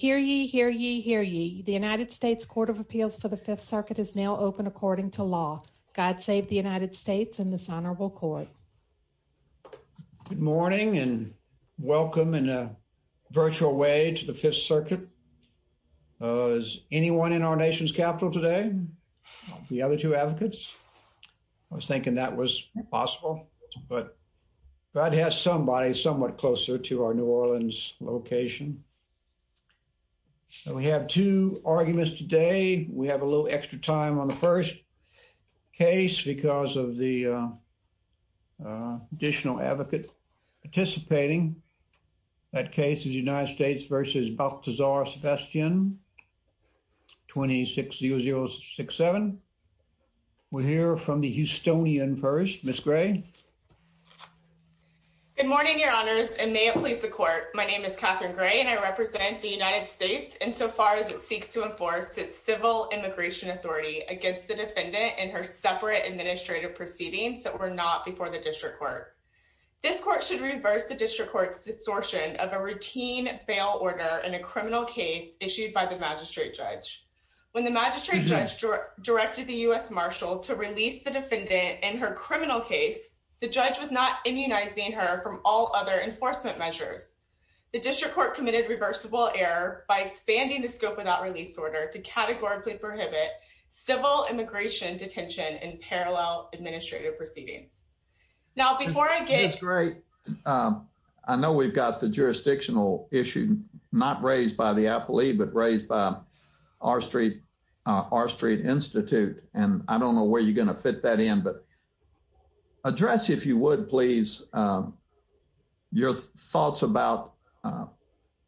Hear ye, hear ye, hear ye. The United States Court of Appeals for the Fifth Circuit is now open according to law. God save the United States and this Honorable Court. Good morning and welcome in a virtual way to the Fifth Circuit. Is anyone in our nation's capital today? The other two advocates? I was thinking that was possible, but God has somebody somewhat closer to our New Orleans location. So we have two arguments today. We have a little extra time on the first case because of the additional advocates participating. That case is United States v. Baltazar-Sebastian, 26-0067. We'll hear from the Houstonian first, Ms. Gray. Good morning, Your Honors, and may it please the court. My name is Catherine Gray and I represent the United States insofar as it seeks to enforce its civil immigration authority against the defendant in her separate administrative proceedings that were not before the district court. This court should reverse the district court's distortion of a routine bail order in a criminal case issued by the magistrate judge. When the magistrate judge directed the U.S. Marshal to release the defendant in her criminal case, the judge was not immunizing her from all other enforcement measures. The district court committed reversible error by expanding the scope of that release order to categorically prohibit civil immigration detention in parallel administrative proceedings. Now, before I get- That's great. I know we've got the jurisdictional issue not raised by the appley, but raised by R Street Institute. And I don't know where you're gonna fit that in, but address if you would, please, address your thoughts about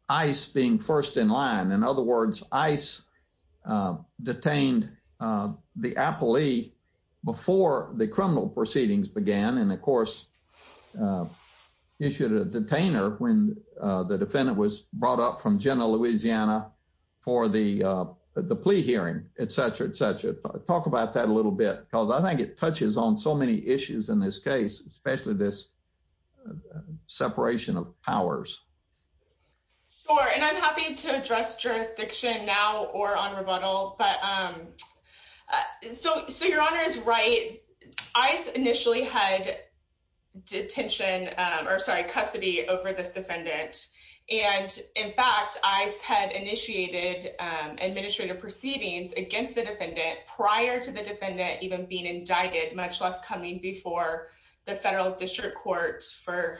ICE being first in line. In other words, ICE detained the appellee before the criminal proceedings began. And of course, issued a detainer when the defendant was brought up from Jenna, Louisiana for the plea hearing, et cetera, et cetera. Talk about that a little bit, because I think it touches on so many issues in this case, especially this separation of powers. Sure, and I'm happy to address jurisdiction now or on rebuttal, but so your honor is right. ICE initially had detention, or sorry, custody over this defendant. And in fact, ICE had initiated administrative proceedings against the defendant prior to the defendant even being indicted, much less coming before the federal district court for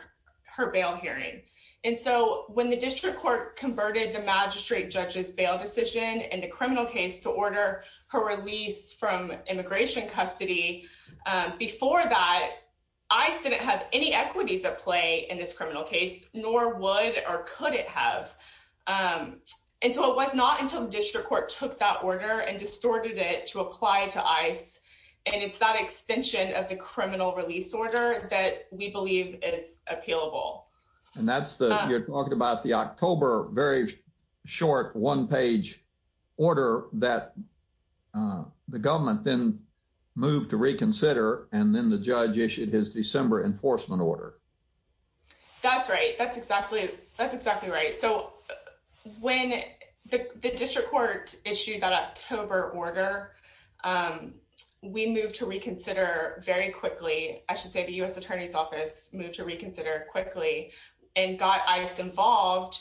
her bail hearing. And so when the district court converted the magistrate judge's bail decision in the criminal case to order her release from immigration custody, before that, ICE didn't have any equities at play in this criminal case, nor would or could it have. And so it was not until the district court took that order and distorted it to apply to ICE. And it's that extension of the criminal release order that we believe is appealable. And that's the, you're talking about the October, very short one page order that the government then moved to reconsider. And then the judge issued his December enforcement order. That's right, that's exactly right. So when the district court issued that October order, we moved to reconsider very quickly. I should say the U.S. attorney's office moved to reconsider quickly and got ICE involved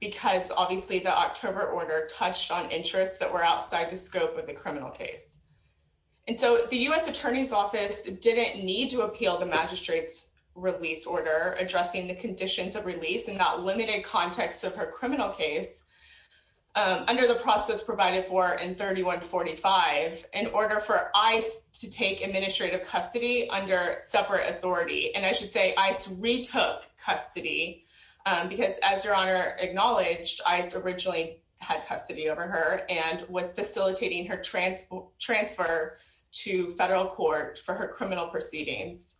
because obviously the October order touched on interests that were outside the scope of the criminal case. And so the U.S. attorney's office didn't need to appeal the magistrate's release order addressing the conditions of release in that limited context of her criminal case under the process provided for in 3145 in order for ICE to take administrative custody under separate authority. And I should say ICE retook custody because as your honor acknowledged, ICE originally had custody over her and was facilitating her transfer to federal court for her criminal proceedings.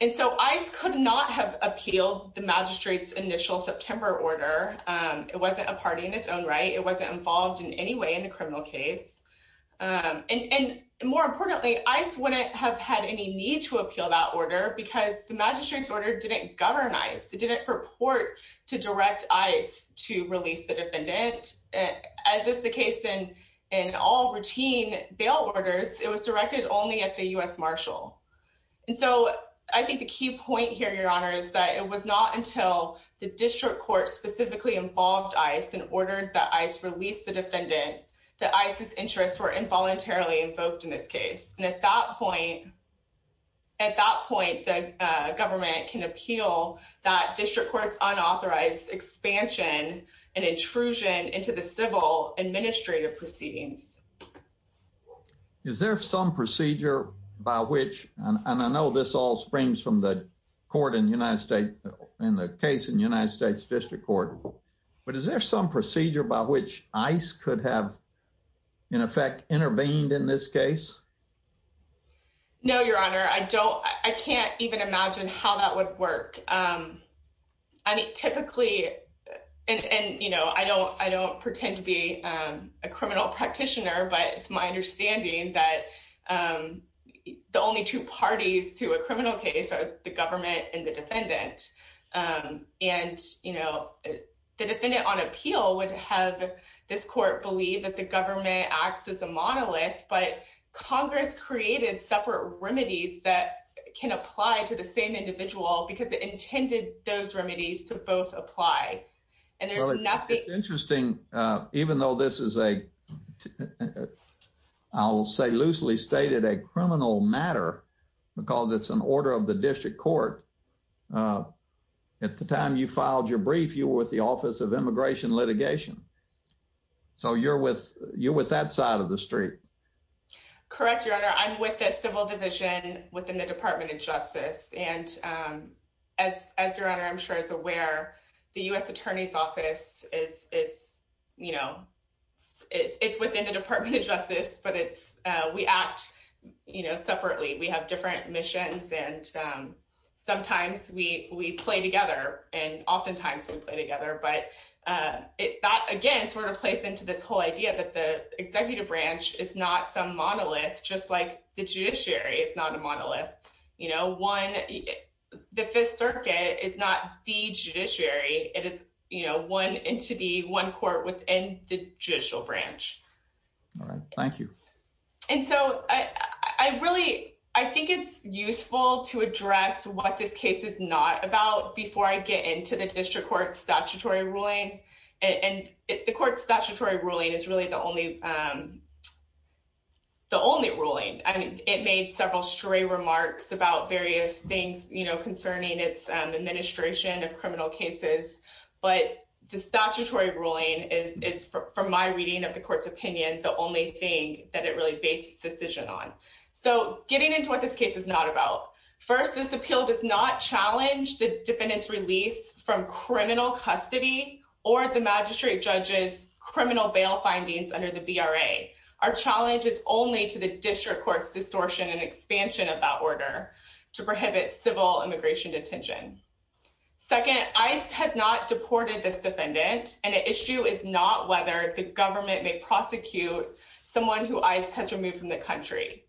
And so ICE could not have appealed the magistrate's initial September order. It wasn't a party in its own right. It wasn't involved in any way in the criminal case. And more importantly, ICE wouldn't have had any need to appeal that order because the magistrate's order didn't govern ICE. It didn't purport to direct ICE to release the defendant. As is the case in all routine bail orders, it was directed only at the U.S. marshal. And so I think the key point here, your honor, is that it was not until the district court specifically involved ICE and ordered that ICE release the defendant, that ICE's interests were involuntarily invoked in this case. And at that point, at that point, the government can appeal that district court's unauthorized expansion and intrusion into the civil administrative proceedings. Is there some procedure by which, and I know this all springs from the court in United States, in the case in the United States district court, but is there some procedure by which ICE could have in effect intervened in this case? No, your honor. I don't, I can't even imagine how that would work. I mean, typically, and you know, I don't pretend to be a criminal practitioner, but it's my understanding that the only two parties to a criminal case are the government and the defendant. And, you know, the defendant on appeal would have this court believe that the government acts as a monolith, but Congress created separate remedies that can apply to the same individual because it intended those remedies to both apply. And there's nothing- I'll say loosely stated a criminal matter because it's an order of the district court. At the time you filed your brief, you were with the Office of Immigration Litigation. So you're with that side of the street. Correct, your honor. I'm with the civil division within the Department of Justice. And as your honor, I'm sure is aware the U.S. Attorney's Office is, you know, it's within the Department of Justice, but it's, we act, you know, separately. We have different missions and sometimes we play together and oftentimes we play together. But that again, sort of plays into this whole idea that the executive branch is not some monolith just like the judiciary is not a monolith. You know, one, the Fifth Circuit is not the judiciary. It is, you know, one entity, one court within the judicial branch. All right, thank you. And so I really, I think it's useful to address what this case is not about before I get into the district court statutory ruling. And the court statutory ruling is really the only, the only ruling. I mean, it made several stray remarks about various things, you know, concerning its administration of criminal cases, but the statutory ruling is, it's from my reading of the court's opinion, the only thing that it really based its decision on. So getting into what this case is not about. First, this appeal does not challenge the defendant's release from criminal custody or the magistrate judge's criminal bail findings under the VRA. Our challenge is only to the district court's distortion and expansion of that order to prohibit civil immigration detention. Second, ICE has not deported this defendant, and the issue is not whether the government may prosecute someone who ICE has removed from the country.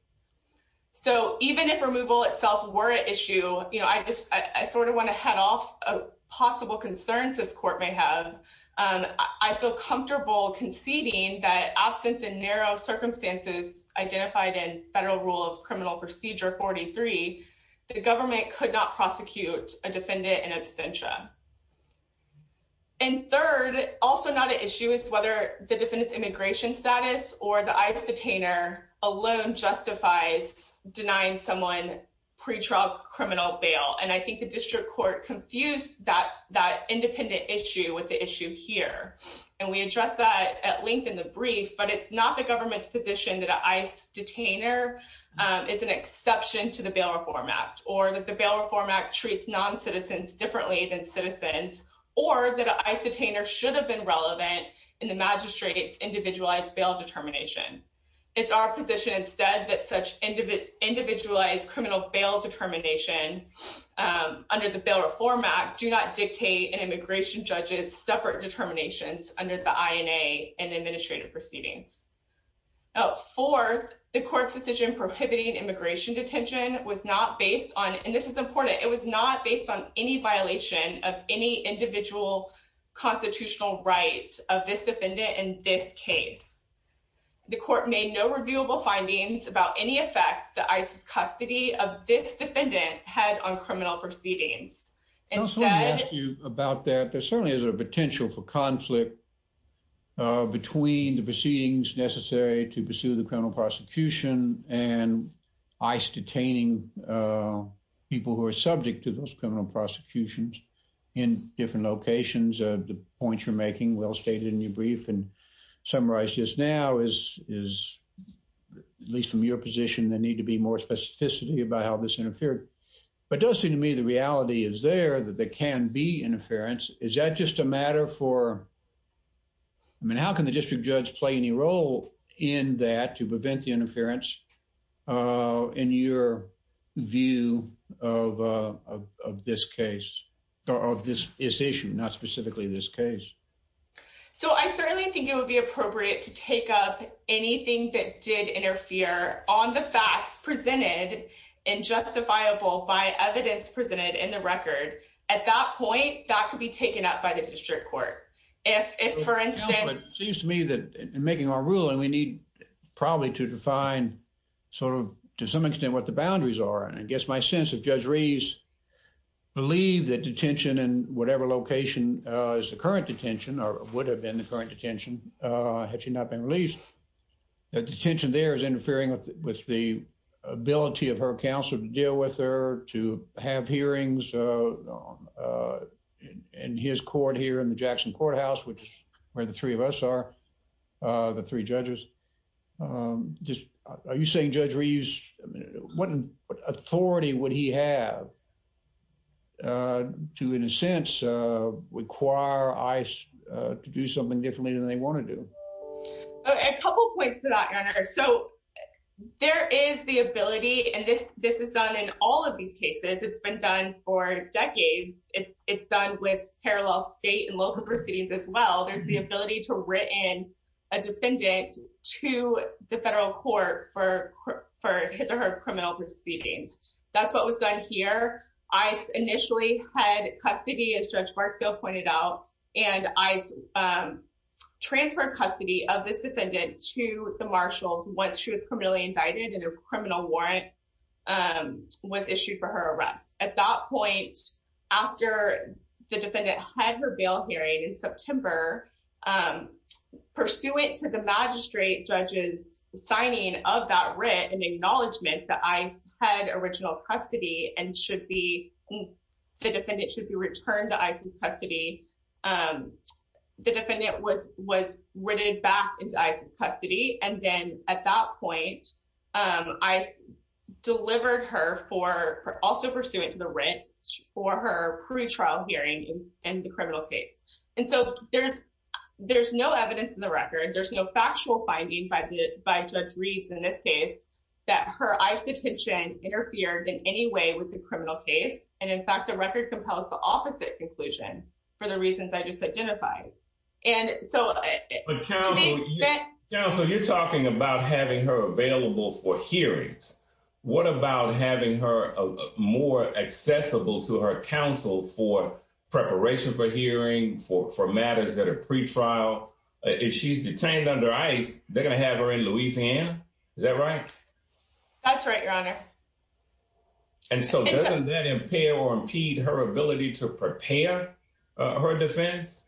So even if removal itself were an issue, you know, I just, I sort of want to head off of possible concerns this court may have. I feel comfortable conceding that absent the narrow circumstances identified in federal rule of criminal procedure 43, the government could not prosecute a defendant in absentia. And third, also not an issue is whether the defendant's immigration status or the ICE detainer alone justifies denying someone pretrial criminal bail. And I think the district court confused that independent issue with the issue here. And we addressed that at length in the brief, but it's not the government's position that an ICE detainer is an exception to the Bail Reform Act or that the Bail Reform Act treats non-citizens differently than citizens, or that an ICE detainer should have been relevant in the magistrate's individualized bail determination. It's our position instead that such individualized criminal bail determination under the Bail Reform Act do not dictate an immigration judge's separate determinations under the INA and administrative proceedings. Fourth, the court's decision prohibiting immigration detention was not based on, and this is important, it was not based on any violation of any individual constitutional right of this defendant in this case. The court made no reviewable findings about any effect the ICE's custody of this defendant had on criminal proceedings. Instead- I just wanna ask you about that. There certainly is a potential for conflict between the proceedings necessary to pursue the criminal prosecution and ICE detaining people who are subject to those criminal prosecutions in different locations. The points you're making, well-stated in your brief and summarized just now is, at least from your position, there need to be more specificity about how this interfered. But it does seem to me the reality is there that there can be interference. Is that just a matter for, I mean, how can the district judge play any role in that to prevent the interference in your view of this case, or of this issue, not specifically this case? So I certainly think it would be appropriate to take up anything that did interfere on the facts presented and justifiable by evidence presented in the record. At that point, that could be taken up by the district court. If, for instance- No, but it seems to me that in making our ruling, we need probably to define sort of to some extent what the boundaries are. And I guess my sense of Judge Reeves believe that detention in whatever location is the current detention, or would have been the current detention had she not been released, that detention there is interfering with the ability of her counsel to deal with her, to have hearings in his court here in the Jackson Courthouse, which is where the three of us are, the three judges. Just, are you saying Judge Reeves, what authority would he have to in a sense require ICE to do something differently than they wanna do? A couple of points to that, Your Honor. So there is the ability, and this is done in all of these cases. It's been done for decades. It's done with parallel state and local proceedings as well. There's the ability to written a defendant to the federal court for his or her criminal proceedings. That's what was done here. ICE initially had custody, as Judge Barksdale pointed out, and ICE transferred custody of this defendant to the marshals once she was criminally indicted and a criminal warrant was issued for her arrest. At that point, after the defendant had her bail hearing in September, pursuant to the magistrate judge's signing of that writ and acknowledgement that ICE had original custody and the defendant should be returned to ICE's custody, the defendant was written back into ICE's custody. And then at that point, ICE delivered her, also pursuant to the writ, for her pretrial hearing in the criminal case. And so there's no evidence in the record. There's no factual finding by Judge Reeves in this case that her ICE detention interfered in any way with the criminal case. And in fact, the record compels the opposite conclusion for the reasons I just identified. And so- But counsel, you're talking about having her available for hearings. What about having her more accessible to her counsel for preparation for hearing, for matters that are pretrial? If she's detained under ICE, they're gonna have her in Louisiana, is that right? That's right, Your Honor. And so doesn't that impair or impede her ability to prepare her defense?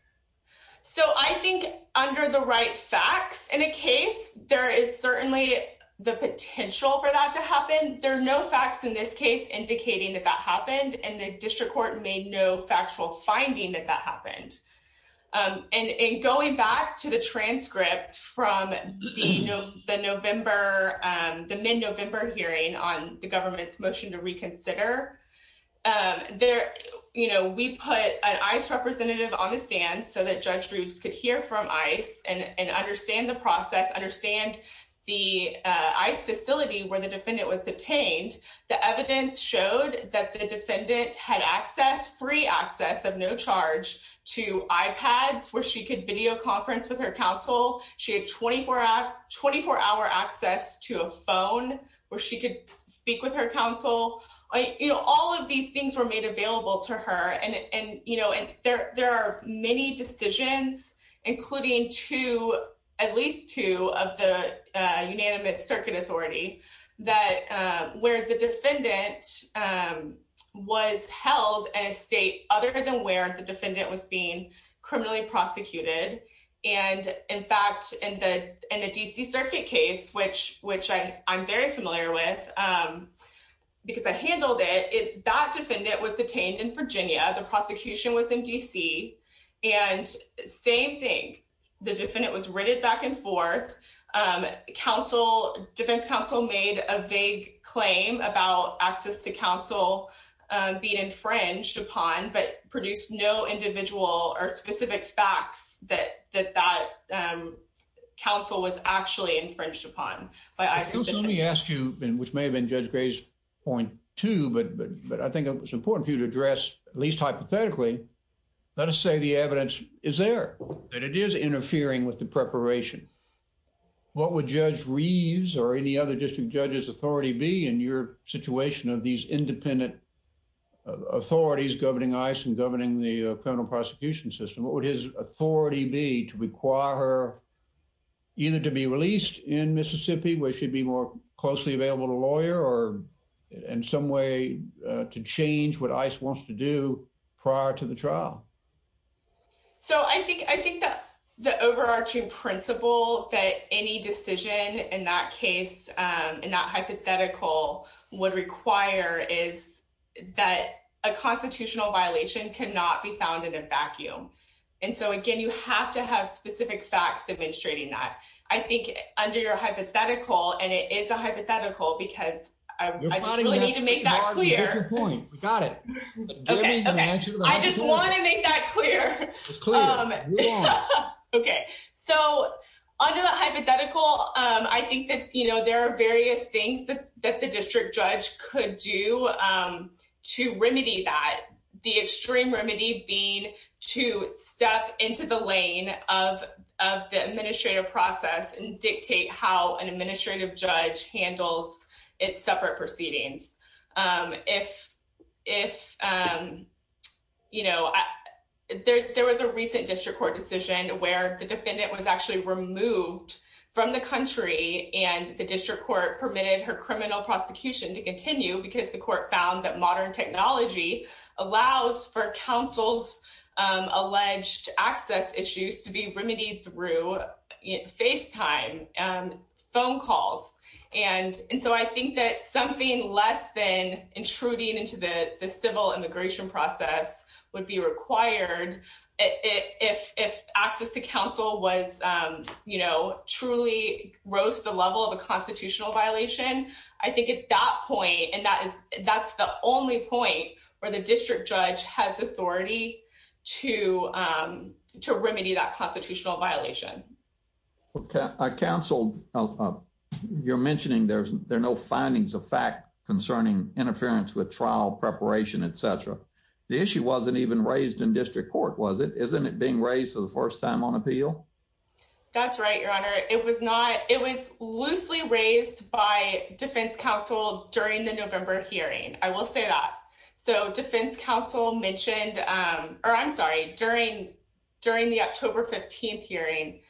So I think under the right facts in a case, there is certainly the potential for that to happen. There are no facts in this case indicating that that happened, and the district court made no factual finding that that happened. And going back to the transcript from the November, the mid-November hearing on the government's motion to reconsider, we put an ICE representative on the stand so that Judge Drews could hear from ICE and understand the process, understand the ICE facility where the defendant was detained. The evidence showed that the defendant had access, free access of no charge to iPads where she could video conference with her counsel. She had 24-hour access to a phone where she could speak with her counsel. All of these things were made available to her. And there are many decisions, including two, at least two, of the unanimous circuit authority where the defendant was held at a state other than where the defendant was being criminally prosecuted. And in fact, in the D.C. Circuit case, which I'm very familiar with because I handled it, that defendant was detained in Virginia. The prosecution was in D.C. And same thing, the defendant was written back and forth. Defense counsel made a vague claim about access to counsel being infringed upon, but produced no individual or specific facts that that counsel was actually infringed upon. But I- which may have been Judge Gray's point too, but I think it was important for you to address, at least hypothetically, let us say the evidence is there, that it is interfering with the preparation. What would Judge Reeves or any other district judge's authority be in your situation of these independent authorities governing ICE and governing the criminal prosecution system? What would his authority be to require her either to be released in Mississippi, where she'd be more closely available to lawyer, or in some way to change what ICE wants to do prior to the trial? So I think the overarching principle that any decision in that case, in that hypothetical, would require is that a constitutional violation cannot be found in a vacuum. And so again, you have to have specific facts demonstrating that. I think under your hypothetical, and it is a hypothetical, because I really need to make that clear. We got it. Okay, okay. I just want to make that clear. It's clear, move on. Okay, so under the hypothetical, I think that there are various things that the district judge could do to remedy that. The extreme remedy being to step into the lane of the administrative process and dictate how an administrative judge handles its separate proceedings. There was a recent district court decision where the defendant was actually removed from the country and the district court permitted her criminal prosecution to continue because the court found that modern technology allows for counsel's alleged access issues to be remedied through FaceTime, phone calls. And so I think that something less than intruding into the civil immigration process would be required if access to counsel truly rose to the level of a constitutional violation. I think at that point, and that's the only point where the district judge has authority to remedy that constitutional violation. I counseled, you're mentioning there are no findings of fact concerning interference with trial preparation, et cetera. The issue wasn't even raised in district court, was it? Isn't it being raised for the first time on appeal? That's right, your honor. It was loosely raised by defense counsel during the November hearing. I will say that. So defense counsel mentioned, or I'm sorry, during the October 15th hearing,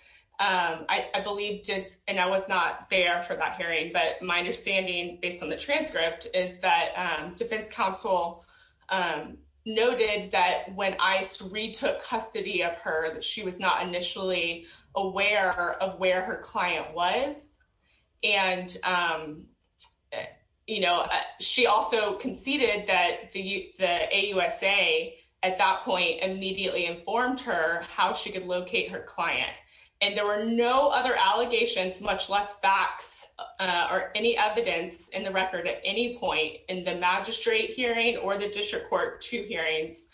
and I was not there for that hearing, but my understanding based on the transcript is that defense counsel noted that when ICE retook custody of her, that she was not initially aware of where her client was. And she also conceded that the defense counsel at the AUSA at that point immediately informed her how she could locate her client. And there were no other allegations, much less facts or any evidence in the record at any point in the magistrate hearing or the district court two hearings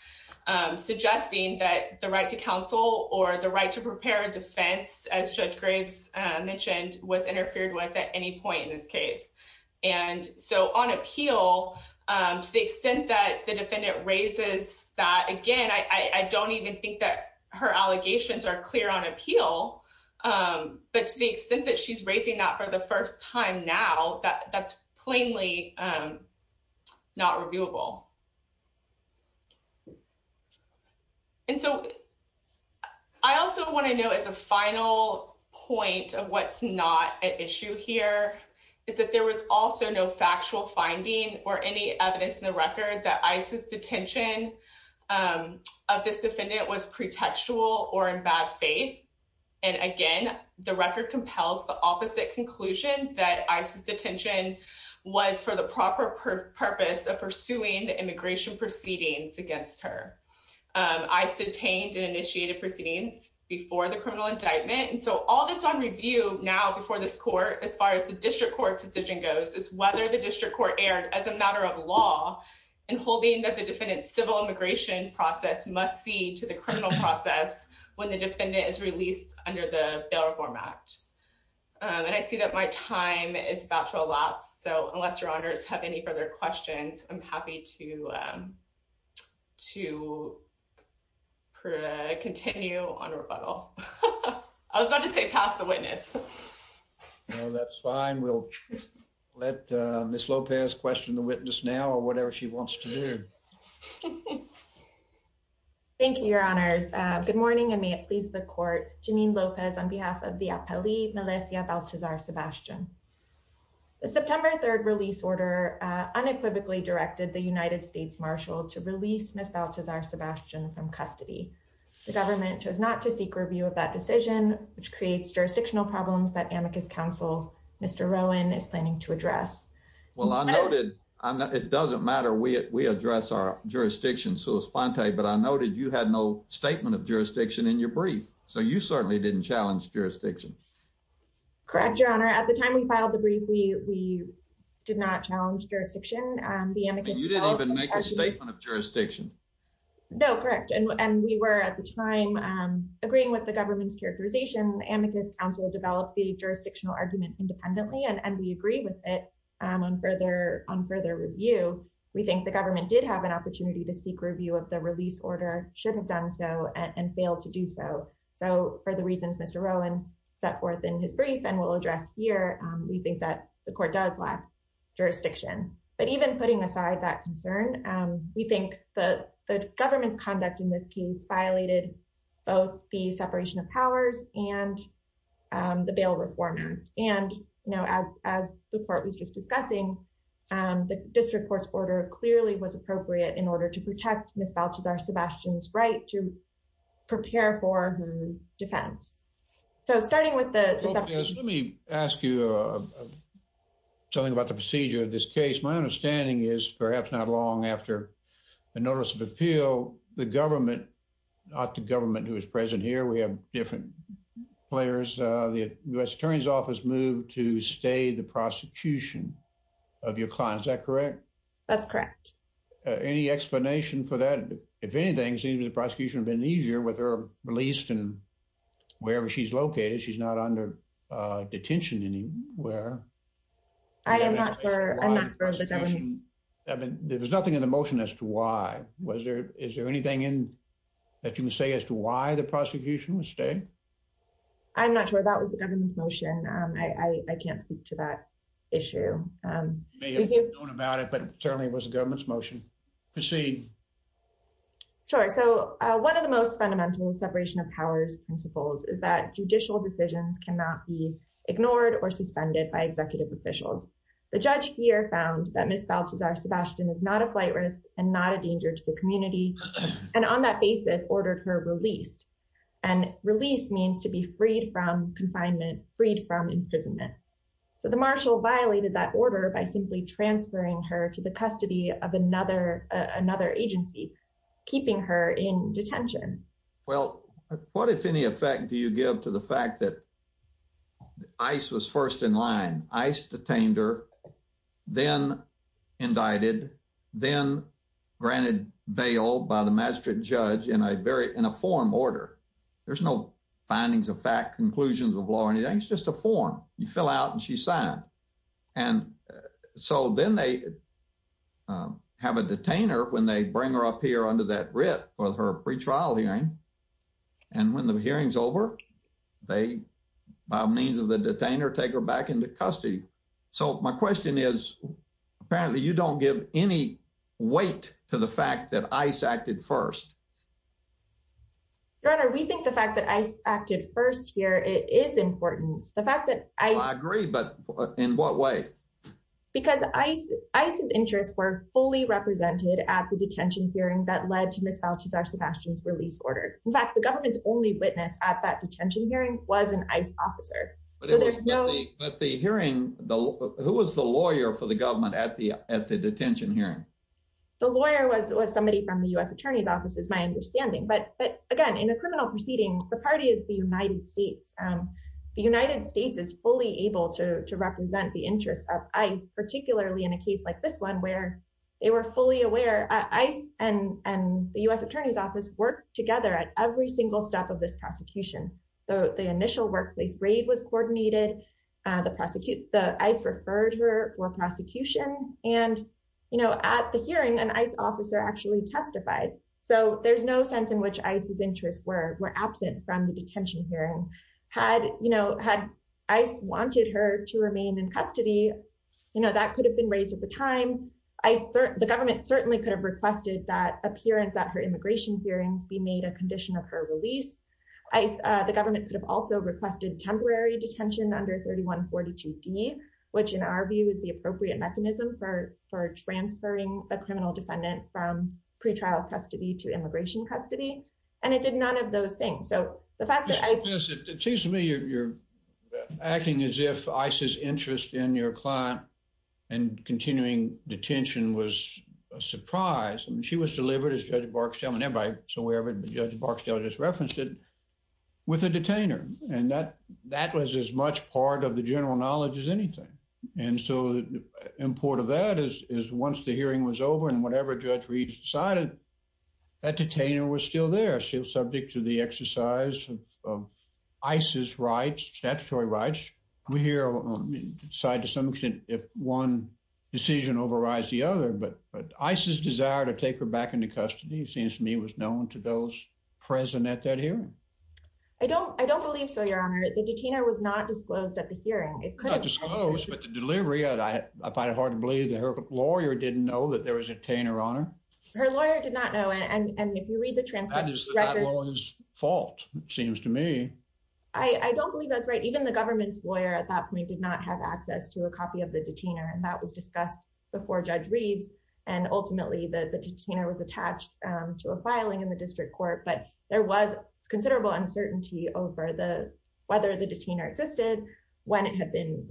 suggesting that the right to counsel or the right to prepare a defense, as Judge Graves mentioned, was interfered with at any point in this case. And so on appeal, to the extent that the defendant raises that, again, I don't even think that her allegations are clear on appeal, but to the extent that she's raising that for the first time now, that's plainly not reviewable. And so I also wanna know as a final point of what's not at issue here is that there was also no factual finding or any evidence in the record that ICE's detention of this defendant was pretextual or in bad faith. And again, the record compels the opposite conclusion that ICE's detention was for the proper purpose of pursuing the immigration proceedings against her. ICE detained and initiated proceedings before the criminal indictment. And so all that's on review now before this court, as far as the district court's decision goes, is whether the district court erred as a matter of law in holding that the defendant's civil immigration process must see to the criminal process when the defendant is released under the Bail Reform Act. And I see that my time is about to elapse. So unless your honors have any further questions, I'm happy to continue on rebuttal. I was about to say pass the witness. So that's fine. We'll let Ms. Lopez question the witness now or whatever she wants to do. Thank you, your honors. Good morning and may it please the court. Janine Lopez on behalf of the appellee, Melissia Baltazar Sebastian. The September 3rd release order unequivocally directed the United States Marshal to release Ms. Baltazar Sebastian from custody. The government chose not to seek review of that decision, which creates jurisdictional problems that Amicus Council, Mr. Rowan is planning to address. Well, I noted, it doesn't matter. We address our jurisdiction, so it's fine to say, but I noted you had no statement of jurisdiction in your brief. So you certainly didn't challenge jurisdiction. Correct, your honor. At the time we filed the brief, we did not challenge jurisdiction. The Amicus Council- And you didn't even make a statement of jurisdiction. No, correct. And we were at the time agreeing with the government's characterization. The Amicus Council developed the jurisdictional argument independently, and we agree with it on further review. We think the government did have an opportunity to seek review of the release order, should have done so, and failed to do so. So for the reasons Mr. Rowan set forth in his brief and will address here, we think that the court does lack jurisdiction. But even putting aside that concern, we think the government's conduct in this case violated both the separation of powers and the Bail Reform Act. And as the court was just discussing, the district court's order clearly was appropriate in order to protect Ms. Fauci's or Sebastian's right to prepare for her defense. So starting with the- Let me ask you something about the procedure of this case. My understanding is perhaps not long after the notice of appeal, the government, not the government who is present here, we have different players, the U.S. Attorney's Office moved to stay the prosecution of your client, is that correct? That's correct. Any explanation for that? If anything, it seems the prosecution have been easier with her released and wherever she's located, she's not under detention anywhere. I am not for the government. There was nothing in the motion as to why. Is there anything in that you can say as to why the prosecution was staying? I'm not sure. That was the government's motion. I can't speak to that issue. You may have known about it, but certainly it was the government's motion. Proceed. Sure. So one of the most fundamental separation of powers principles is that judicial decisions cannot be ignored or suspended by executive officials. The judge here found that Ms. Fauci's or Sebastian's is not a flight risk and not a danger to the community, and on that basis, ordered her released. And released means to be freed from confinement, freed from imprisonment. So the marshal violated that order by simply transferring her to the custody of another agency, keeping her in detention. Well, what, if any, effect do you give to the fact that ICE was first in line? ICE detained her, then indicted, then granted bail by the magistrate judge in a form order. There's no findings of fact, conclusions of law, anything, it's just a form. You fill out and she's signed. And so then they have a detainer when they bring her up here under that writ for her pretrial hearing. And when the hearing's over, they, by means of the detainer, take her back into custody. So my question is, apparently you don't give any weight to the fact that ICE acted first. Your Honor, we think the fact that ICE acted first here is important. The fact that ICE- Well, I agree, but in what way? Because ICE's interests were fully represented at the detention hearing that led to Ms. Fauci's or Sebastian's release order. In fact, the government's only witness at that detention hearing was an ICE officer. So there's no- But the hearing, who was the lawyer for the government at the detention hearing? The lawyer was somebody from the U.S. Attorney's Office, is my understanding. But again, in a criminal proceeding, the party is the United States. The United States is fully able to represent the interests of ICE, particularly in a case like this one where they were fully aware. ICE and the U.S. Attorney's Office worked together at every single step of this prosecution. The initial workplace raid was coordinated. The ICE referred her for prosecution. And at the hearing, an ICE officer actually testified. So there's no sense in which ICE's interests were absent from the detention hearing. Had ICE wanted her to remain in custody, that could have been raised at the time. The government certainly could have requested that appearance at her immigration hearings be made a condition of her release. ICE, the government could have also requested temporary detention under 3142D, which in our view is the appropriate mechanism for transferring a criminal defendant from pretrial custody to immigration custody. And it did none of those things. So the fact that ICE- It seems to me you're acting as if ICE's interest in your client and continuing detention was a surprise. I mean, she was delivered as Judge Barksdale and everybody, so wherever Judge Barksdale just referenced it, with a detainer. And that was as much part of the general knowledge as anything. And so the import of that is once the hearing was over and whatever Judge Reed decided, that detainer was still there. She was subject to the exercise of ICE's rights, statutory rights. We here decide to some extent if one decision overrides the other, but ICE's desire to take her back into custody seems to me was known to those present at that hearing. I don't believe so, Your Honor. The detainer was not disclosed at the hearing. It couldn't- Not disclosed, but the delivery, I find it hard to believe that her lawyer didn't know that there was a detainer on her. Her lawyer did not know. And if you read the transcript- That is the lawyer's fault, it seems to me. I don't believe that's right. Even the government's lawyer at that point did not have access to a copy of the detainer. And that was discussed before Judge Reed's. And ultimately, the detainer was attached to a filing in the district court, but there was considerable uncertainty over whether the detainer existed, when it had been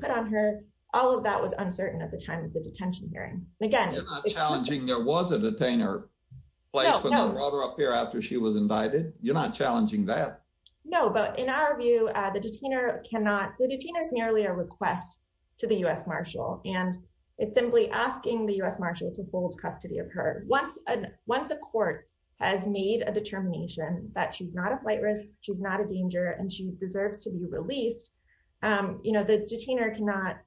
put on her. All of that was uncertain at the time of the detention hearing. And again- You're not challenging there was a detainer placed in the water up here after she was indicted? You're not challenging that? No, but in our view, the detainer cannot, the detainer's merely a request to the U.S. Marshal. And it's simply asking the U.S. Marshal to hold custody of her. Once a court has made a determination that she's not a flight risk, she's not a danger, and she deserves to be released, the detainer cannot,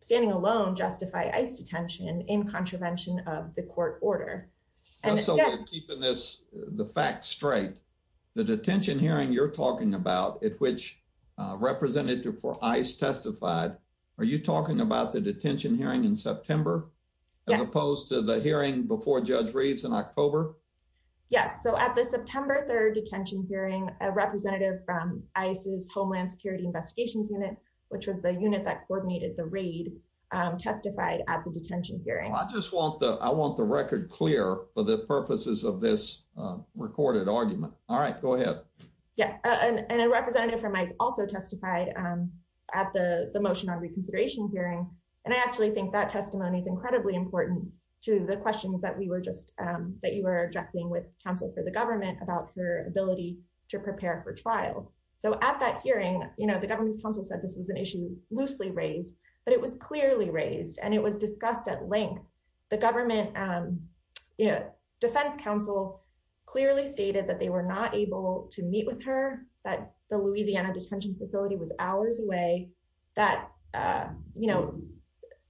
standing alone, justify ICE detention in contravention of the court order. And again- Just so we're keeping the facts straight, the detention hearing you're talking about, at which representative for ICE testified, are you talking about the detention hearing in September, as opposed to the hearing before Judge Reeves in October? Yes, so at the September 3rd detention hearing, a representative from ICE's Homeland Security Investigations Unit, which was the unit that coordinated the raid, testified at the detention hearing. I just want the record clear for the purposes of this recorded argument. All right, go ahead. Yes, and a representative from ICE also testified at the motion on reconsideration hearing. And I actually think that testimony is incredibly important to the questions that we were just, that you were addressing with counsel for the government about her ability to prepare for trial. So at that hearing, the government's counsel said this was an issue loosely raised, but it was clearly raised and it was discussed at length. The government defense counsel clearly stated that they were not able to meet with her, that the Louisiana detention facility was hours away, that, you know,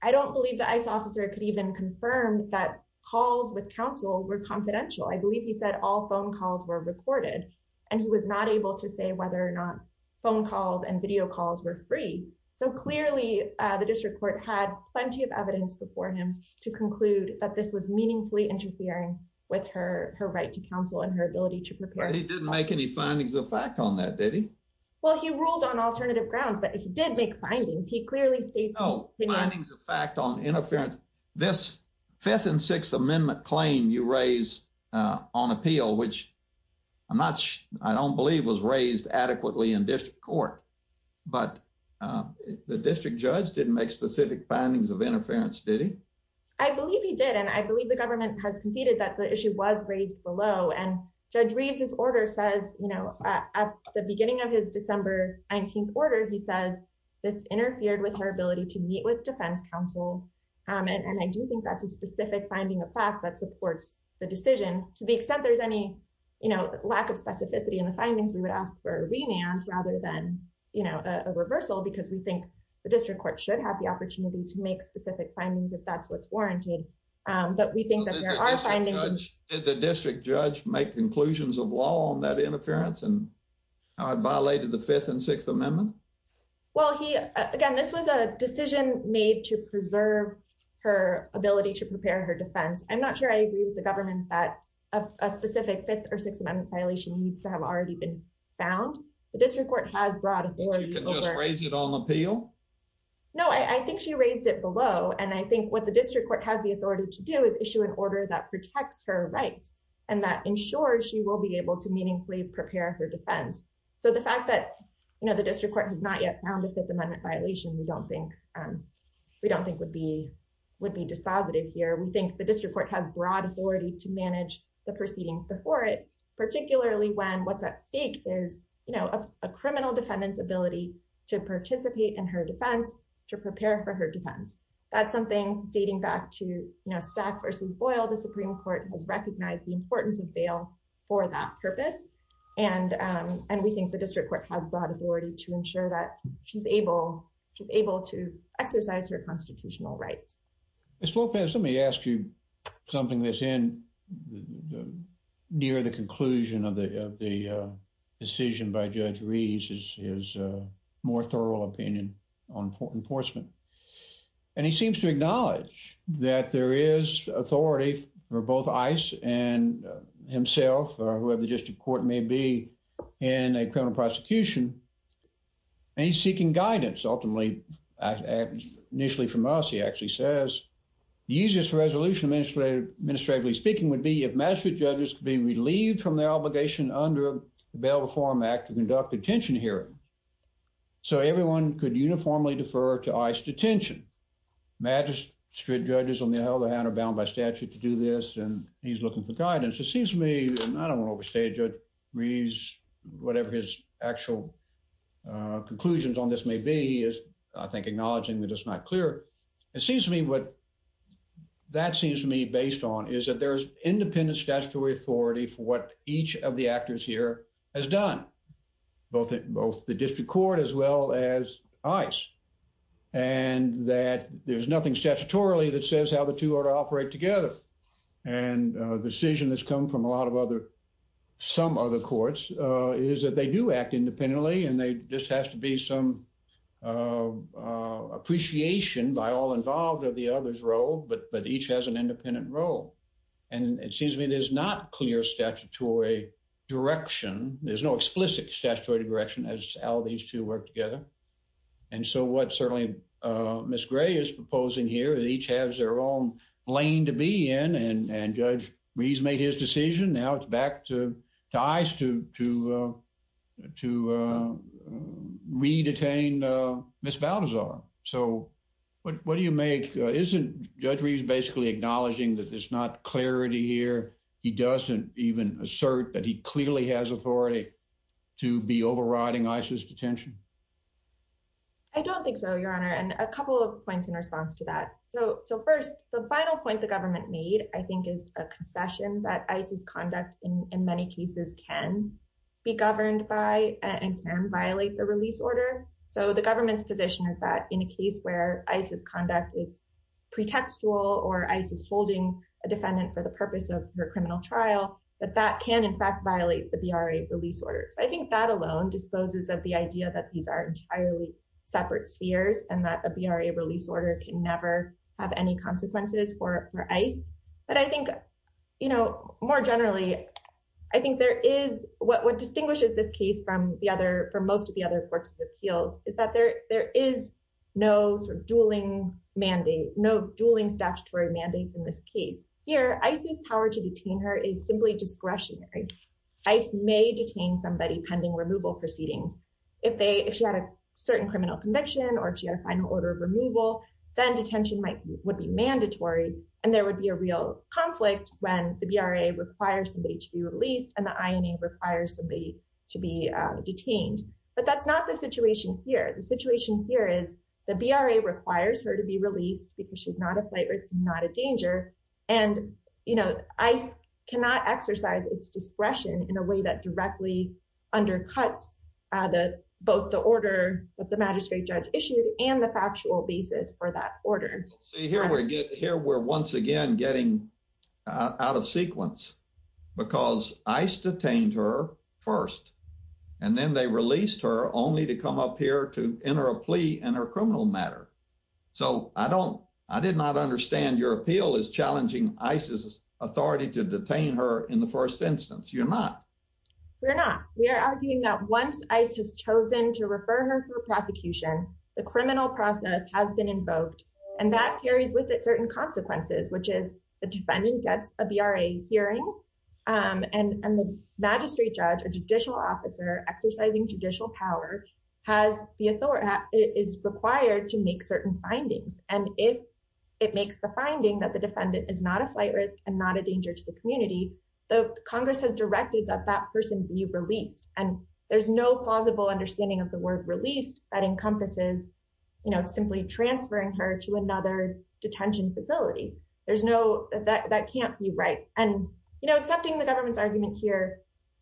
I don't believe the ICE officer could even confirm that calls with counsel were confidential. I believe he said all phone calls were recorded and he was not able to say whether or not phone calls and video calls were free. So clearly the district court had plenty of evidence before him to conclude that this was meaningfully interfering with her right to counsel and her ability to prepare. He didn't make any findings of fact on that, did he? Well, he ruled on alternative grounds, but he did make findings. He clearly states- No, findings of fact on interference. This fifth and sixth amendment claim you raise on appeal, which I'm not sure, I don't believe was raised adequately in district court, but the district judge didn't make specific findings of interference, did he? I believe he did. And I believe the government has conceded that the issue was raised below and Judge Reeves's order says, at the beginning of his December 19th order, he says this interfered with her ability to meet with defense counsel. And I do think that's a specific finding of fact that supports the decision. To the extent there's any lack of specificity in the findings, we would ask for a remand rather than a reversal because we think the district court should have the opportunity to make specific findings if that's what's warranted. But we think that there are findings- Did the district judge make conclusions of law on that interference and how it violated the fifth and sixth amendment? Well, he, again, this was a decision made to preserve her ability to prepare her defense. I'm not sure I agree with the government that a specific fifth or sixth amendment violation needs to have already been found. The district court has brought authority over- Do you think you can just raise it on appeal? No, I think she raised it below. And I think what the district court has the authority to do is issue an order that protects her rights and that ensures she will be able to meaningfully prepare her defense. So the fact that the district court has not yet found a fifth amendment violation, we don't think would be dispositive here. We think the district court has broad authority to manage the proceedings before it, particularly when what's at stake is a criminal defendant's ability to participate in her defense, to prepare for her defense. That's something dating back to Stack v. Boyle. The Supreme Court has recognized the importance of bail for that purpose. And we think the district court has broad authority to ensure that she's able to exercise her constitutional rights. Ms. Lopez, let me ask you something that's near the conclusion of the decision by Judge Rees, his more thorough opinion on enforcement. And he seems to acknowledge that there is authority for both ICE and himself, or whoever the district court may be in a criminal prosecution. And he's seeking guidance ultimately, initially from us, he actually says, the easiest resolution administratively speaking would be if magistrate judges could be relieved from their obligation under the Bail Reform Act to conduct detention hearings. So everyone could uniformly defer to ICE detention. Magistrate judges on the other hand are bound by statute to do this. And he's looking for guidance. It seems to me, and I don't wanna overstate Judge Rees, whatever his actual conclusions on this may be, he is, I think, acknowledging that it's not clear. It seems to me what that seems to me based on is that there's independent statutory authority for what each of the actors here has done, both the district court as well as ICE. And that there's nothing statutorily that says how the two are to operate together. And a decision that's come from a lot of other, some other courts is that they do act independently and they just have to be some appreciation by all involved of the other's role, but each has an independent role. And it seems to me there's not clear statutory direction. There's no explicit statutory direction as how these two work together. And so what certainly Ms. Gray is proposing here that each has their own lane to be in and Judge Rees made his decision. Now it's back to ICE to re-detain Ms. Balthazar. So what do you make? Isn't Judge Rees basically acknowledging that there's not clarity here? He doesn't even assert that he clearly has authority to be overriding ICE's detention? I don't think so, Your Honor. And a couple of points in response to that. So first, the final point the government made, I think is a concession that ICE's conduct in many cases can be governed by and can violate the release order. So the government's position is that in a case where ICE's conduct is pretextual or ICE is holding a defendant for the purpose of her criminal trial, that that can in fact violate the BRA release order. So I think that alone disposes of the idea that these are entirely separate spheres and that a BRA release order can never have any consequences for ICE. But I think more generally, I think what distinguishes this case from most of the other courts' appeals is that there is no dueling mandate, no dueling statutory mandates in this case. Here, ICE's power to detain her is simply discretionary. ICE may detain somebody pending removal proceedings. If she had a certain criminal conviction or if she had a final order of removal, then detention would be mandatory and there would be a real conflict when the BRA requires somebody to be released and the INA requires somebody to be detained. But that's not the situation here. The situation here is the BRA requires her to be released because she's not a flight risk and not a danger. And ICE cannot exercise its discretion in a way that directly undercuts both the order that the magistrate judge issued and the factual basis for that order. See, here we're once again getting out of sequence because ICE detained her first and then they released her only to come up here to enter a plea in her criminal matter. So I did not understand your appeal as challenging ICE's authority to detain her in the first instance. You're not. We're not. We are arguing that once ICE has chosen to refer her for prosecution, the criminal process has been invoked and that carries with it certain consequences, which is the defendant gets a BRA hearing and the magistrate judge, a judicial officer exercising judicial power is required to make certain findings. And if it makes the finding that the defendant is not a flight risk and not a danger to the community, the Congress has directed that that person be released. And there's no plausible understanding of the word released that encompasses simply transferring her to another detention facility. There's no, that can't be right. And accepting the government's argument here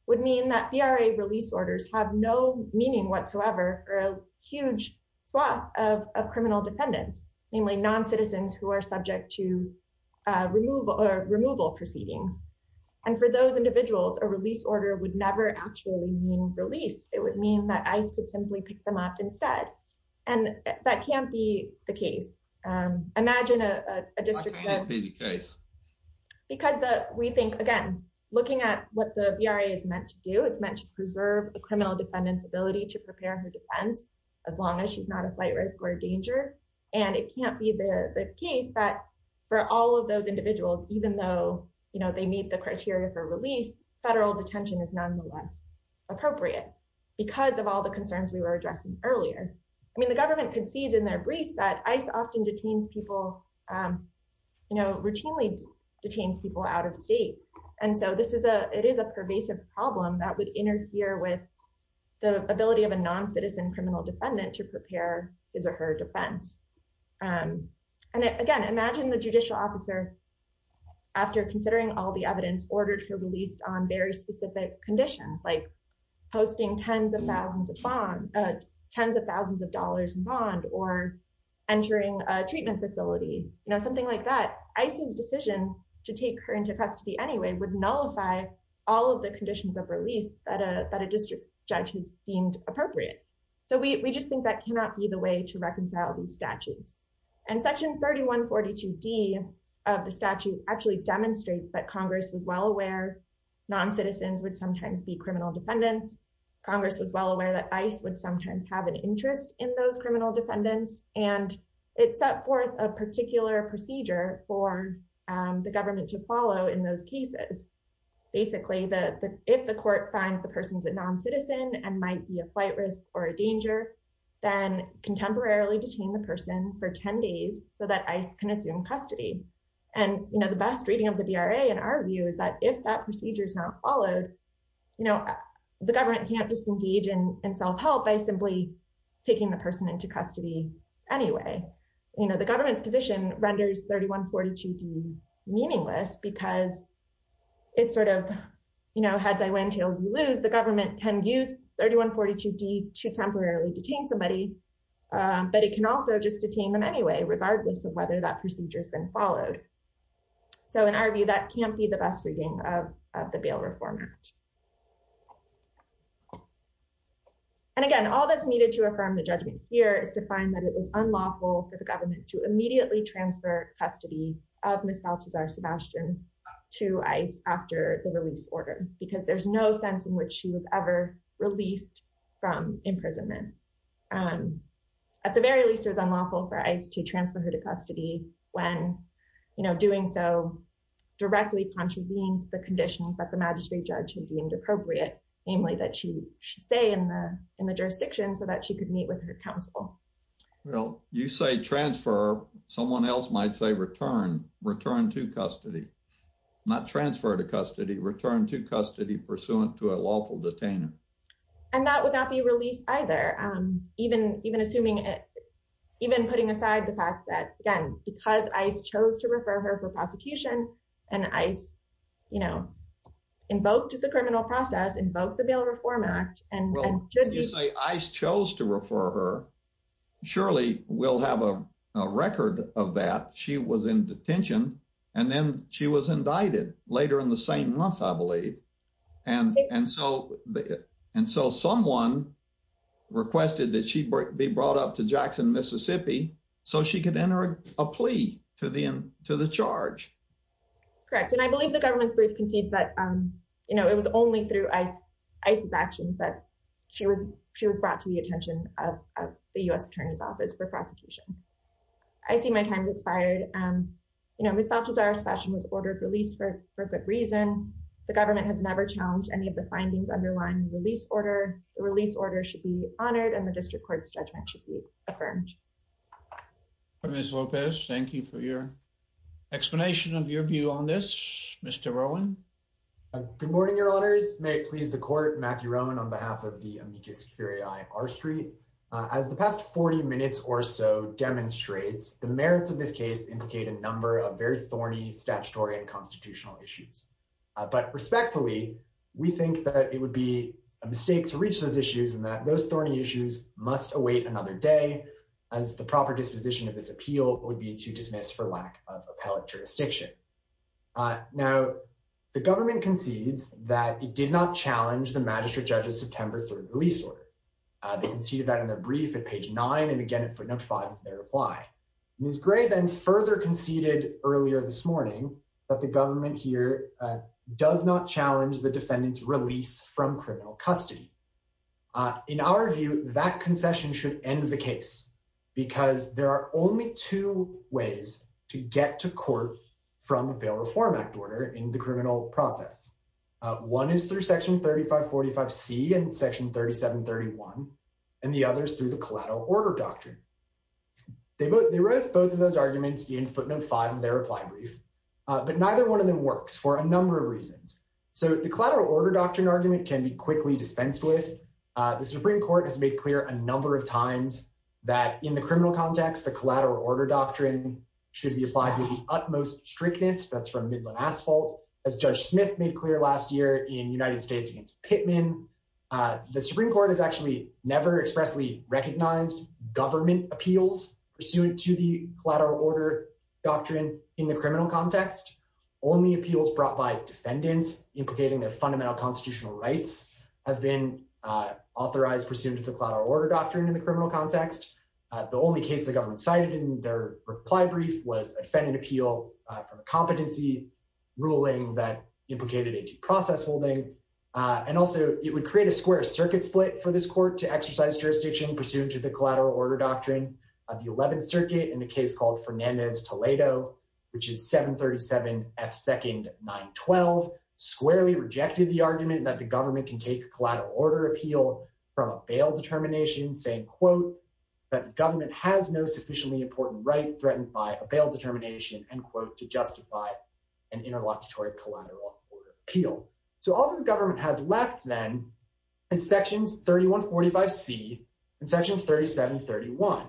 would mean that BRA release orders have no meaning whatsoever or a huge swath of criminal defendants, namely non-citizens who are subject to removal proceedings. And for those individuals, a release order would never actually mean release. It would mean that ICE could simply pick them up instead. And that can't be the case. Imagine a district- Why can't it be the case? Because we think, again, it's meant to preserve a criminal defendant's ability to prepare her defense as long as she's not a flight risk or a danger. And it can't be the case that for all of those individuals, even though they meet the criteria for release, federal detention is nonetheless appropriate because of all the concerns we were addressing earlier. I mean, the government concedes in their brief that ICE often detains people, routinely detains people out of state. And so it is a pervasive problem that would interfere with the ability of a non-citizen criminal defendant to prepare his or her defense. And again, imagine the judicial officer, after considering all the evidence, ordered her released on very specific conditions like posting tens of thousands of dollars in bond or entering a treatment facility, something like that. ICE's decision to take her into custody anyway would nullify all of the conditions of release that a district judge has deemed appropriate. So we just think that cannot be the way to reconcile these statutes. And section 3142D of the statute actually demonstrates that Congress was well aware non-citizens would sometimes be criminal defendants. Congress was well aware that ICE would sometimes have an interest in those criminal defendants. And it set forth a particular procedure for the government to follow in those cases. Basically, if the court finds the person's a non-citizen and might be a flight risk or a danger, then contemporarily detain the person for 10 days so that ICE can assume custody. And the best reading of the DRA in our view is that if that procedure is not followed, the government can't just engage in self-help by simply taking the person into custody anyway. The government's position renders 3142D meaningless because it's sort of heads I win, tails you lose. The government can use 3142D to temporarily detain somebody, but it can also just detain them anyway, regardless of whether that procedure has been followed. So in our view, that can't be the best reading of the Bail Reform Act. And again, all that's needed to affirm the judgment here is to find that it was unlawful for the government to immediately transfer custody of Ms. Balthazar Sebastian to ICE after the release order, because there's no sense in which she was ever released from imprisonment. At the very least, it was unlawful for ICE to transfer her to custody when doing so directly contravened the conditions that the magistrate judge had deemed appropriate, namely that she stay in the jurisdiction so that she could meet with her counsel. Well, you say transfer, someone else might say return, return to custody, not transfer to custody, return to custody pursuant to a lawful detainer. And that would not be released either, even putting aside the fact that, again, because ICE chose to refer her for prosecution and ICE invoked the criminal process, invoked the Bail Reform Act, and should be- Well, you say ICE chose to refer her, surely we'll have a record of that. She was in detention and then she was indicted later in the same month, I believe. And so someone requested that she be brought up to Jackson, Mississippi, so she could enter a plea to the charge. Correct, and I believe the government's brief concedes that it was only through ICE's actions that she was brought to the attention of the U.S. Attorney's Office for prosecution. I see my time has expired. Ms. Balthazar's session was ordered released for good reason. The government has never challenged any of the findings underlying the release order. The release order should be honored and the district court's judgment should be affirmed. Ms. Lopez, thank you for your explanation of your view on this. Mr. Rowan. Good morning, your honors. May it please the court, Matthew Rowan on behalf of the amicus curiae R Street. As the past 40 minutes or so demonstrates, the merits of this case indicate a number of very thorny statutory and constitutional issues. But respectfully, we think that it would be a mistake to reach those issues and that those thorny issues must await another day, as the proper disposition of this appeal would be to dismiss for lack of appellate jurisdiction. Now, the government concedes that it did not challenge the magistrate judge's September 3rd release order. They conceded that in their brief at page nine and again at footnote five of their reply. Ms. Gray then further conceded earlier this morning that the government here does not challenge the defendant's release from criminal custody. In our view, that concession should end the case because there are only two ways to get to court from a bail reform act order in the criminal process. One is through section 3545C and section 3731, and the other is through the collateral order doctrine. They wrote both of those arguments in footnote five of their reply brief, but neither one of them works for a number of reasons. So the collateral order doctrine argument can be quickly dispensed with. The Supreme Court has made clear a number of times that in the criminal context, the collateral order doctrine should be applied with the utmost strictness, that's from Midland Asphalt, as Judge Smith made clear last year in United States against Pittman. The Supreme Court has actually never expressly recognized government appeals pursuant to the collateral order doctrine in the criminal context. Only appeals brought by defendants implicating their fundamental constitutional rights have been authorized pursuant to the collateral order doctrine in the criminal context. The only case the government cited in their reply brief was a defendant appeal from a competency ruling that implicated a due process holding, and also it would create a square circuit split for this court to exercise jurisdiction pursuant to the collateral order doctrine of the 11th Circuit in a case called Fernandez Toledo, which is 737 F. 2nd, 912, squarely rejected the argument that the government can take collateral order appeal from a bail determination saying, quote, that the government has no sufficiently important right threatened by a bail determination, end quote, to justify an interlocutory collateral order appeal. So all that the government has left then is sections 3145C and section 3731.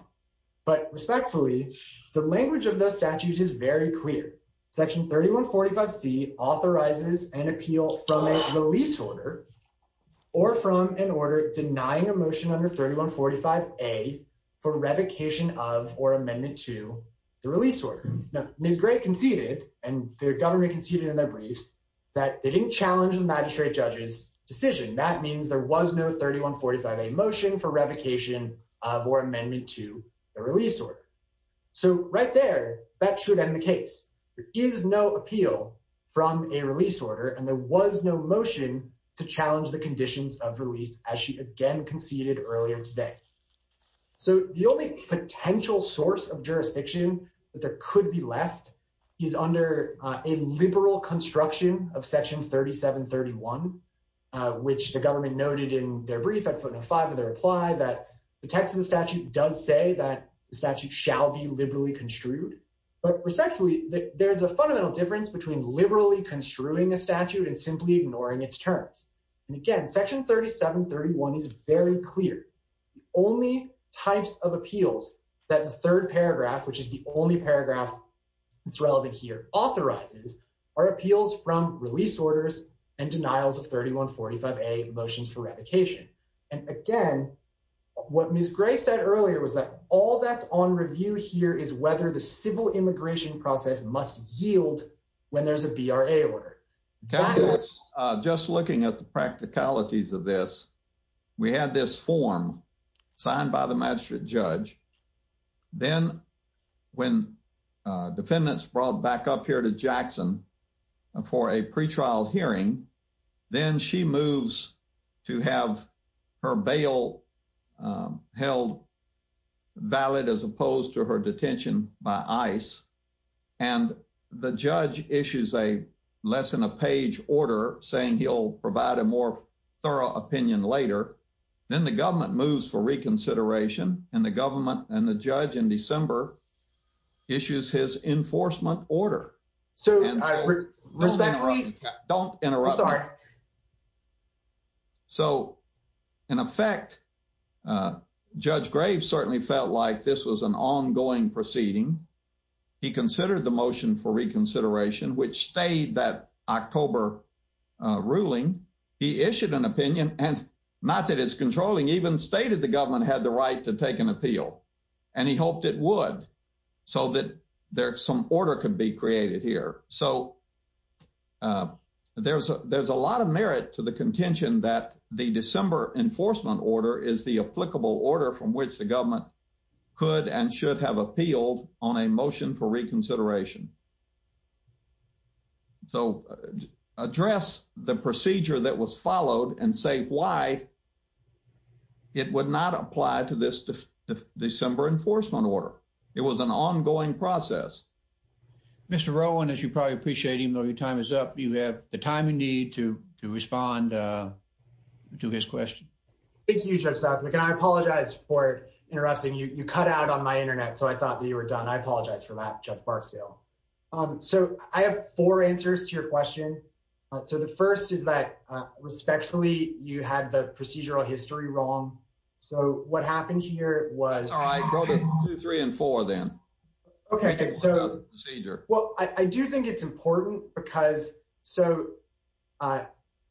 But respectfully, the language of those statutes is very clear. Section 3145C authorizes an appeal from a release order or from an order denying a motion under 3145A for revocation of or amendment to the release order. Now, Ms. Gray conceded, and the government conceded in their briefs, that they didn't challenge the magistrate judge's decision. That means there was no 3145A motion for revocation of or amendment to the release order. So right there, that should end the case. There is no appeal from a release order, and there was no motion to challenge the conditions of release as she again conceded earlier today. So the only potential source of jurisdiction that there could be left is under a liberal construction of section 3731, which the government noted in their brief at footnote five of their reply, that the text of the statute does say that the statute shall be liberally construed. But respectfully, there's a fundamental difference between liberally construing a statute and simply ignoring its terms. And again, section 3731 is very clear. The only types of appeals that the third paragraph, which is the only paragraph that's relevant here, authorizes are appeals from release orders and denials of 3145A motions for revocation. And again, what Ms. Gray said earlier was that all that's on review here is whether the civil immigration process must yield when there's a BRA order. Okay, just looking at the practicalities of this, we had this form signed by the magistrate judge. Then when defendants brought back up here to Jackson for a pretrial hearing, then she moves to have her bail held valid as opposed to her detention by ICE. And the judge issues a less than a page order saying he'll provide a more thorough opinion later. Then the government moves for reconsideration and the government and the judge in December issues his enforcement order. So respectfully, don't interrupt me. So in effect, Judge Graves certainly felt like this was an ongoing proceeding. He considered the motion for reconsideration, which stayed that October ruling. He issued an opinion and not that it's controlling, even stated the government had the right to take an appeal. And he hoped it would so that some order could be created here. So there's a lot of merit to the contention that the December enforcement order is the applicable order from which the government could and should have appealed on a motion for reconsideration. So address the procedure that was followed and say why it would not apply to this December enforcement order. It was an ongoing process. Mr. Rowan, as you probably appreciate, even though your time is up, you have the time you need to respond to his question. Thank you, Judge Southwick. And I apologize for interrupting you. You cut out on my internet. So I thought that you were done. I apologize for that, Judge Barksdale. So I have four answers to your question. So the first is that respectfully, you had the procedural history wrong. So what happened here was- That's all right, go to two, three, and four then. Okay, so, well, I do think it's important because so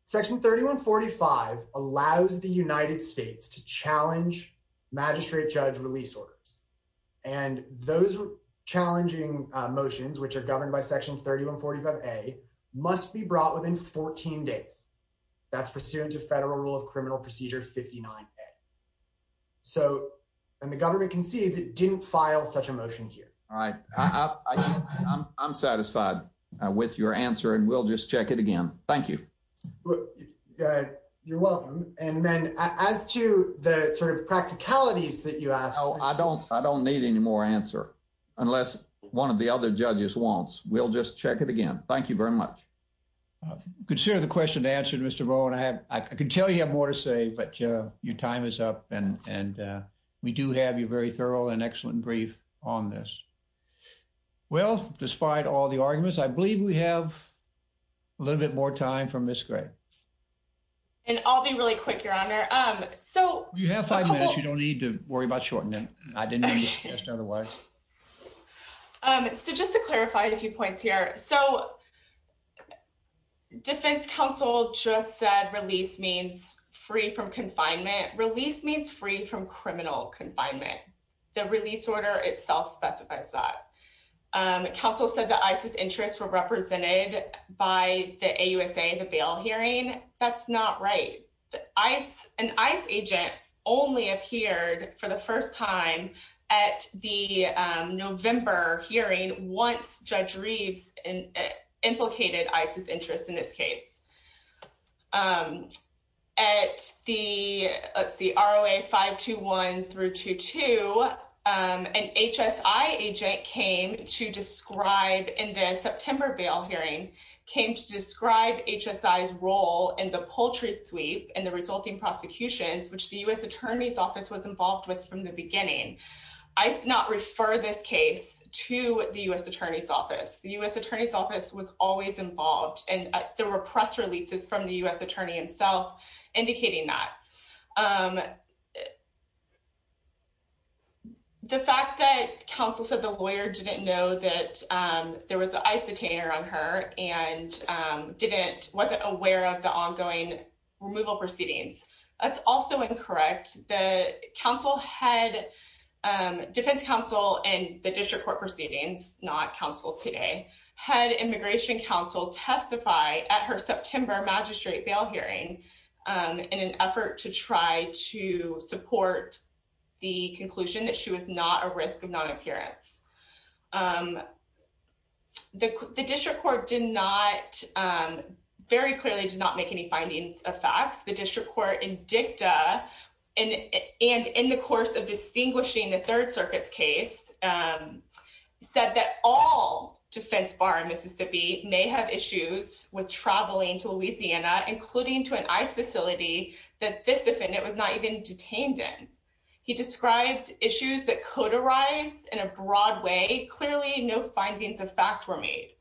section 3145 allows the United States to challenge magistrate judge release orders. And those challenging motions, which are governed by section 3145A, must be brought within 14 days. That's pursuant to Federal Rule of Criminal Procedure 59A. So, and the government concedes it didn't file such a motion here. All right, I'm satisfied with your answer and we'll just check it again. Thank you. You're welcome. And then as to the sort of practicalities that you asked- I don't need any more answer unless one of the other judges wants. We'll just check it again. Thank you very much. Consider the question answered, Mr. Bowen. I can tell you have more to say, but your time is up and we do have your very thorough and excellent brief on this. Well, despite all the arguments, I believe we have a little bit more time for Ms. Gray. And I'll be really quick, Your Honor. So- You have five minutes. You don't need to worry about shortening. I didn't mean to cast that away. So just to clarify a few points here. So Defense Counsel just said release means free from confinement. Release means free from criminal confinement. The release order itself specifies that. Counsel said the ICE's interests were represented by the AUSA, the bail hearing. That's not right. An ICE agent only appeared for the first time at the November hearing once Judge Reeves implicated ICE's interest in this case. At the, let's see, ROA 521 through 22, an HSI agent came to describe, in the September bail hearing, came to describe HSI's role in the poultry sweep and the resulting prosecutions, which the U.S. Attorney's Office was involved with from the beginning. I did not refer this case to the U.S. Attorney's Office. The U.S. Attorney's Office was always involved and there were press releases from the U.S. Attorney himself indicating that. The fact that counsel said the lawyer didn't know that there was the ICE detainer on her and wasn't aware of the ongoing removal proceedings, that's also incorrect. The defense counsel in the district court proceedings, not counsel today, had immigration counsel testify at her September magistrate bail hearing in an effort to try to support the conclusion that she was not a risk of non-appearance. The district court very clearly did not make any findings of facts. The district court in dicta and in the course of distinguishing the Third Circuit's case, said that all defense bar in Mississippi may have issues with traveling to Louisiana, including to an ICE facility that this defendant was not even detained in. He described issues that coderized in a broad way, clearly no findings of fact were made.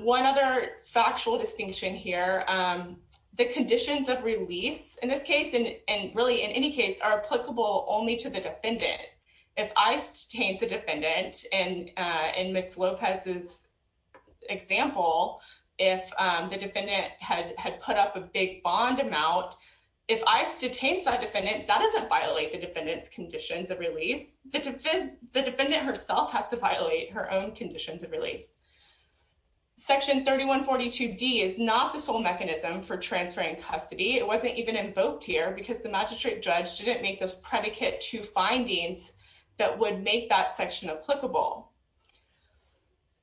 One other factual distinction here, the conditions of release in this case and really in any case are applicable only to the defendant. If ICE detains the defendant and in Ms. Lopez's example, if the defendant had put up a big bond amount, if ICE detains that defendant, that doesn't violate the defendant's conditions of release. The defendant herself has to violate her own conditions of release. Section 3142D is not the sole mechanism for transferring custody. It wasn't even invoked here because the magistrate judge didn't make this predicate to findings that would make that section applicable.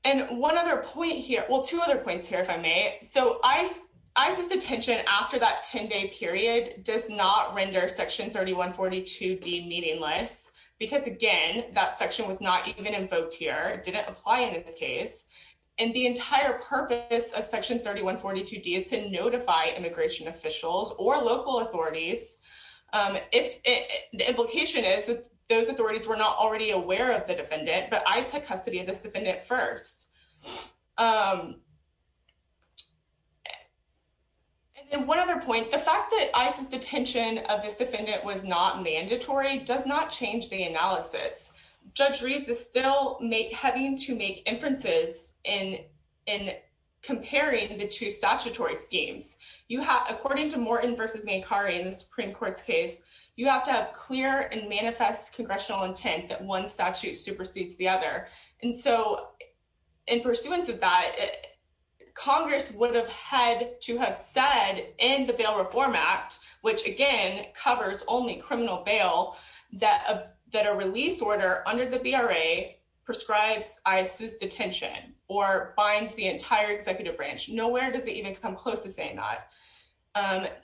And one other point here, well, two other points here, if I may. So ICE's detention after that 10 day period does not render section 3142D meaningless because again, that section was not even invoked here, didn't apply in this case. And the entire purpose of section 3142D is to notify immigration officials or local authorities. The implication is that those authorities were not already aware of the defendant, but ICE had custody of this defendant first. the fact that ICE's detention of this defendant was not mandatory does not change the analysis. Judge Reeves is still having to make inferences in comparing the two statutory schemes. According to Morton v. Mancari in the Supreme Court's case, you have to have clear and manifest congressional intent that one statute supersedes the other. And so in pursuance of that, Congress would have had to have said in the Bail Reform Act, which again, covers only criminal bail, that a release order under the BRA prescribes ICE's detention or binds the entire executive branch. Nowhere does it even come close to saying that.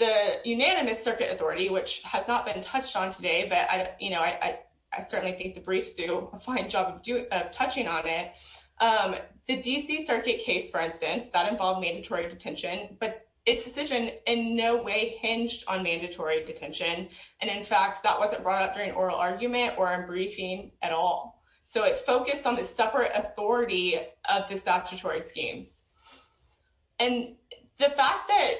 The unanimous circuit authority, which has not been touched on today, but I certainly think the briefs do a fine job of touching on it. The DC Circuit case, for instance, that involved mandatory detention, but its decision in no way hinged on mandatory detention. And in fact, that wasn't brought up during oral argument or in briefing at all. So it focused on the separate authority of the statutory schemes. And the fact that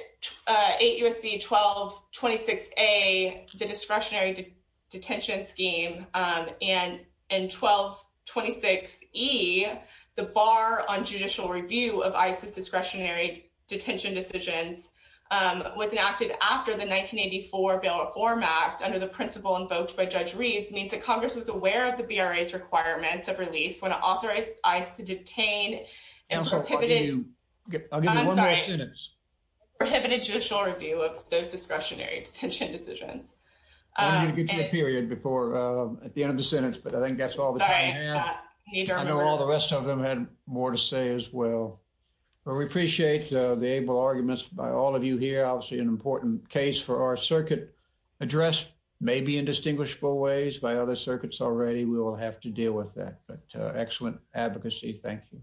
8 U.S.C. 1226A, the discretionary detention scheme, and 1226E, the bar on judicial review of ICE's discretionary detention decisions, was enacted after the 1984 Bail Reform Act under the principle invoked by Judge Reeves means that Congress was aware of the BRA's requirements of release when it authorized ICE to detain and prohibited- I'll give you one more sentence. Prohibited judicial review of those discretionary detention decisions. I'm gonna get you a period before, at the end of the sentence, but I think that's all the time we have. I know all the rest of them had more to say as well. But we appreciate the able arguments by all of you here. Obviously an important case for our circuit address, maybe in distinguishable ways by other circuits already, we will have to deal with that, but excellent advocacy, thank you.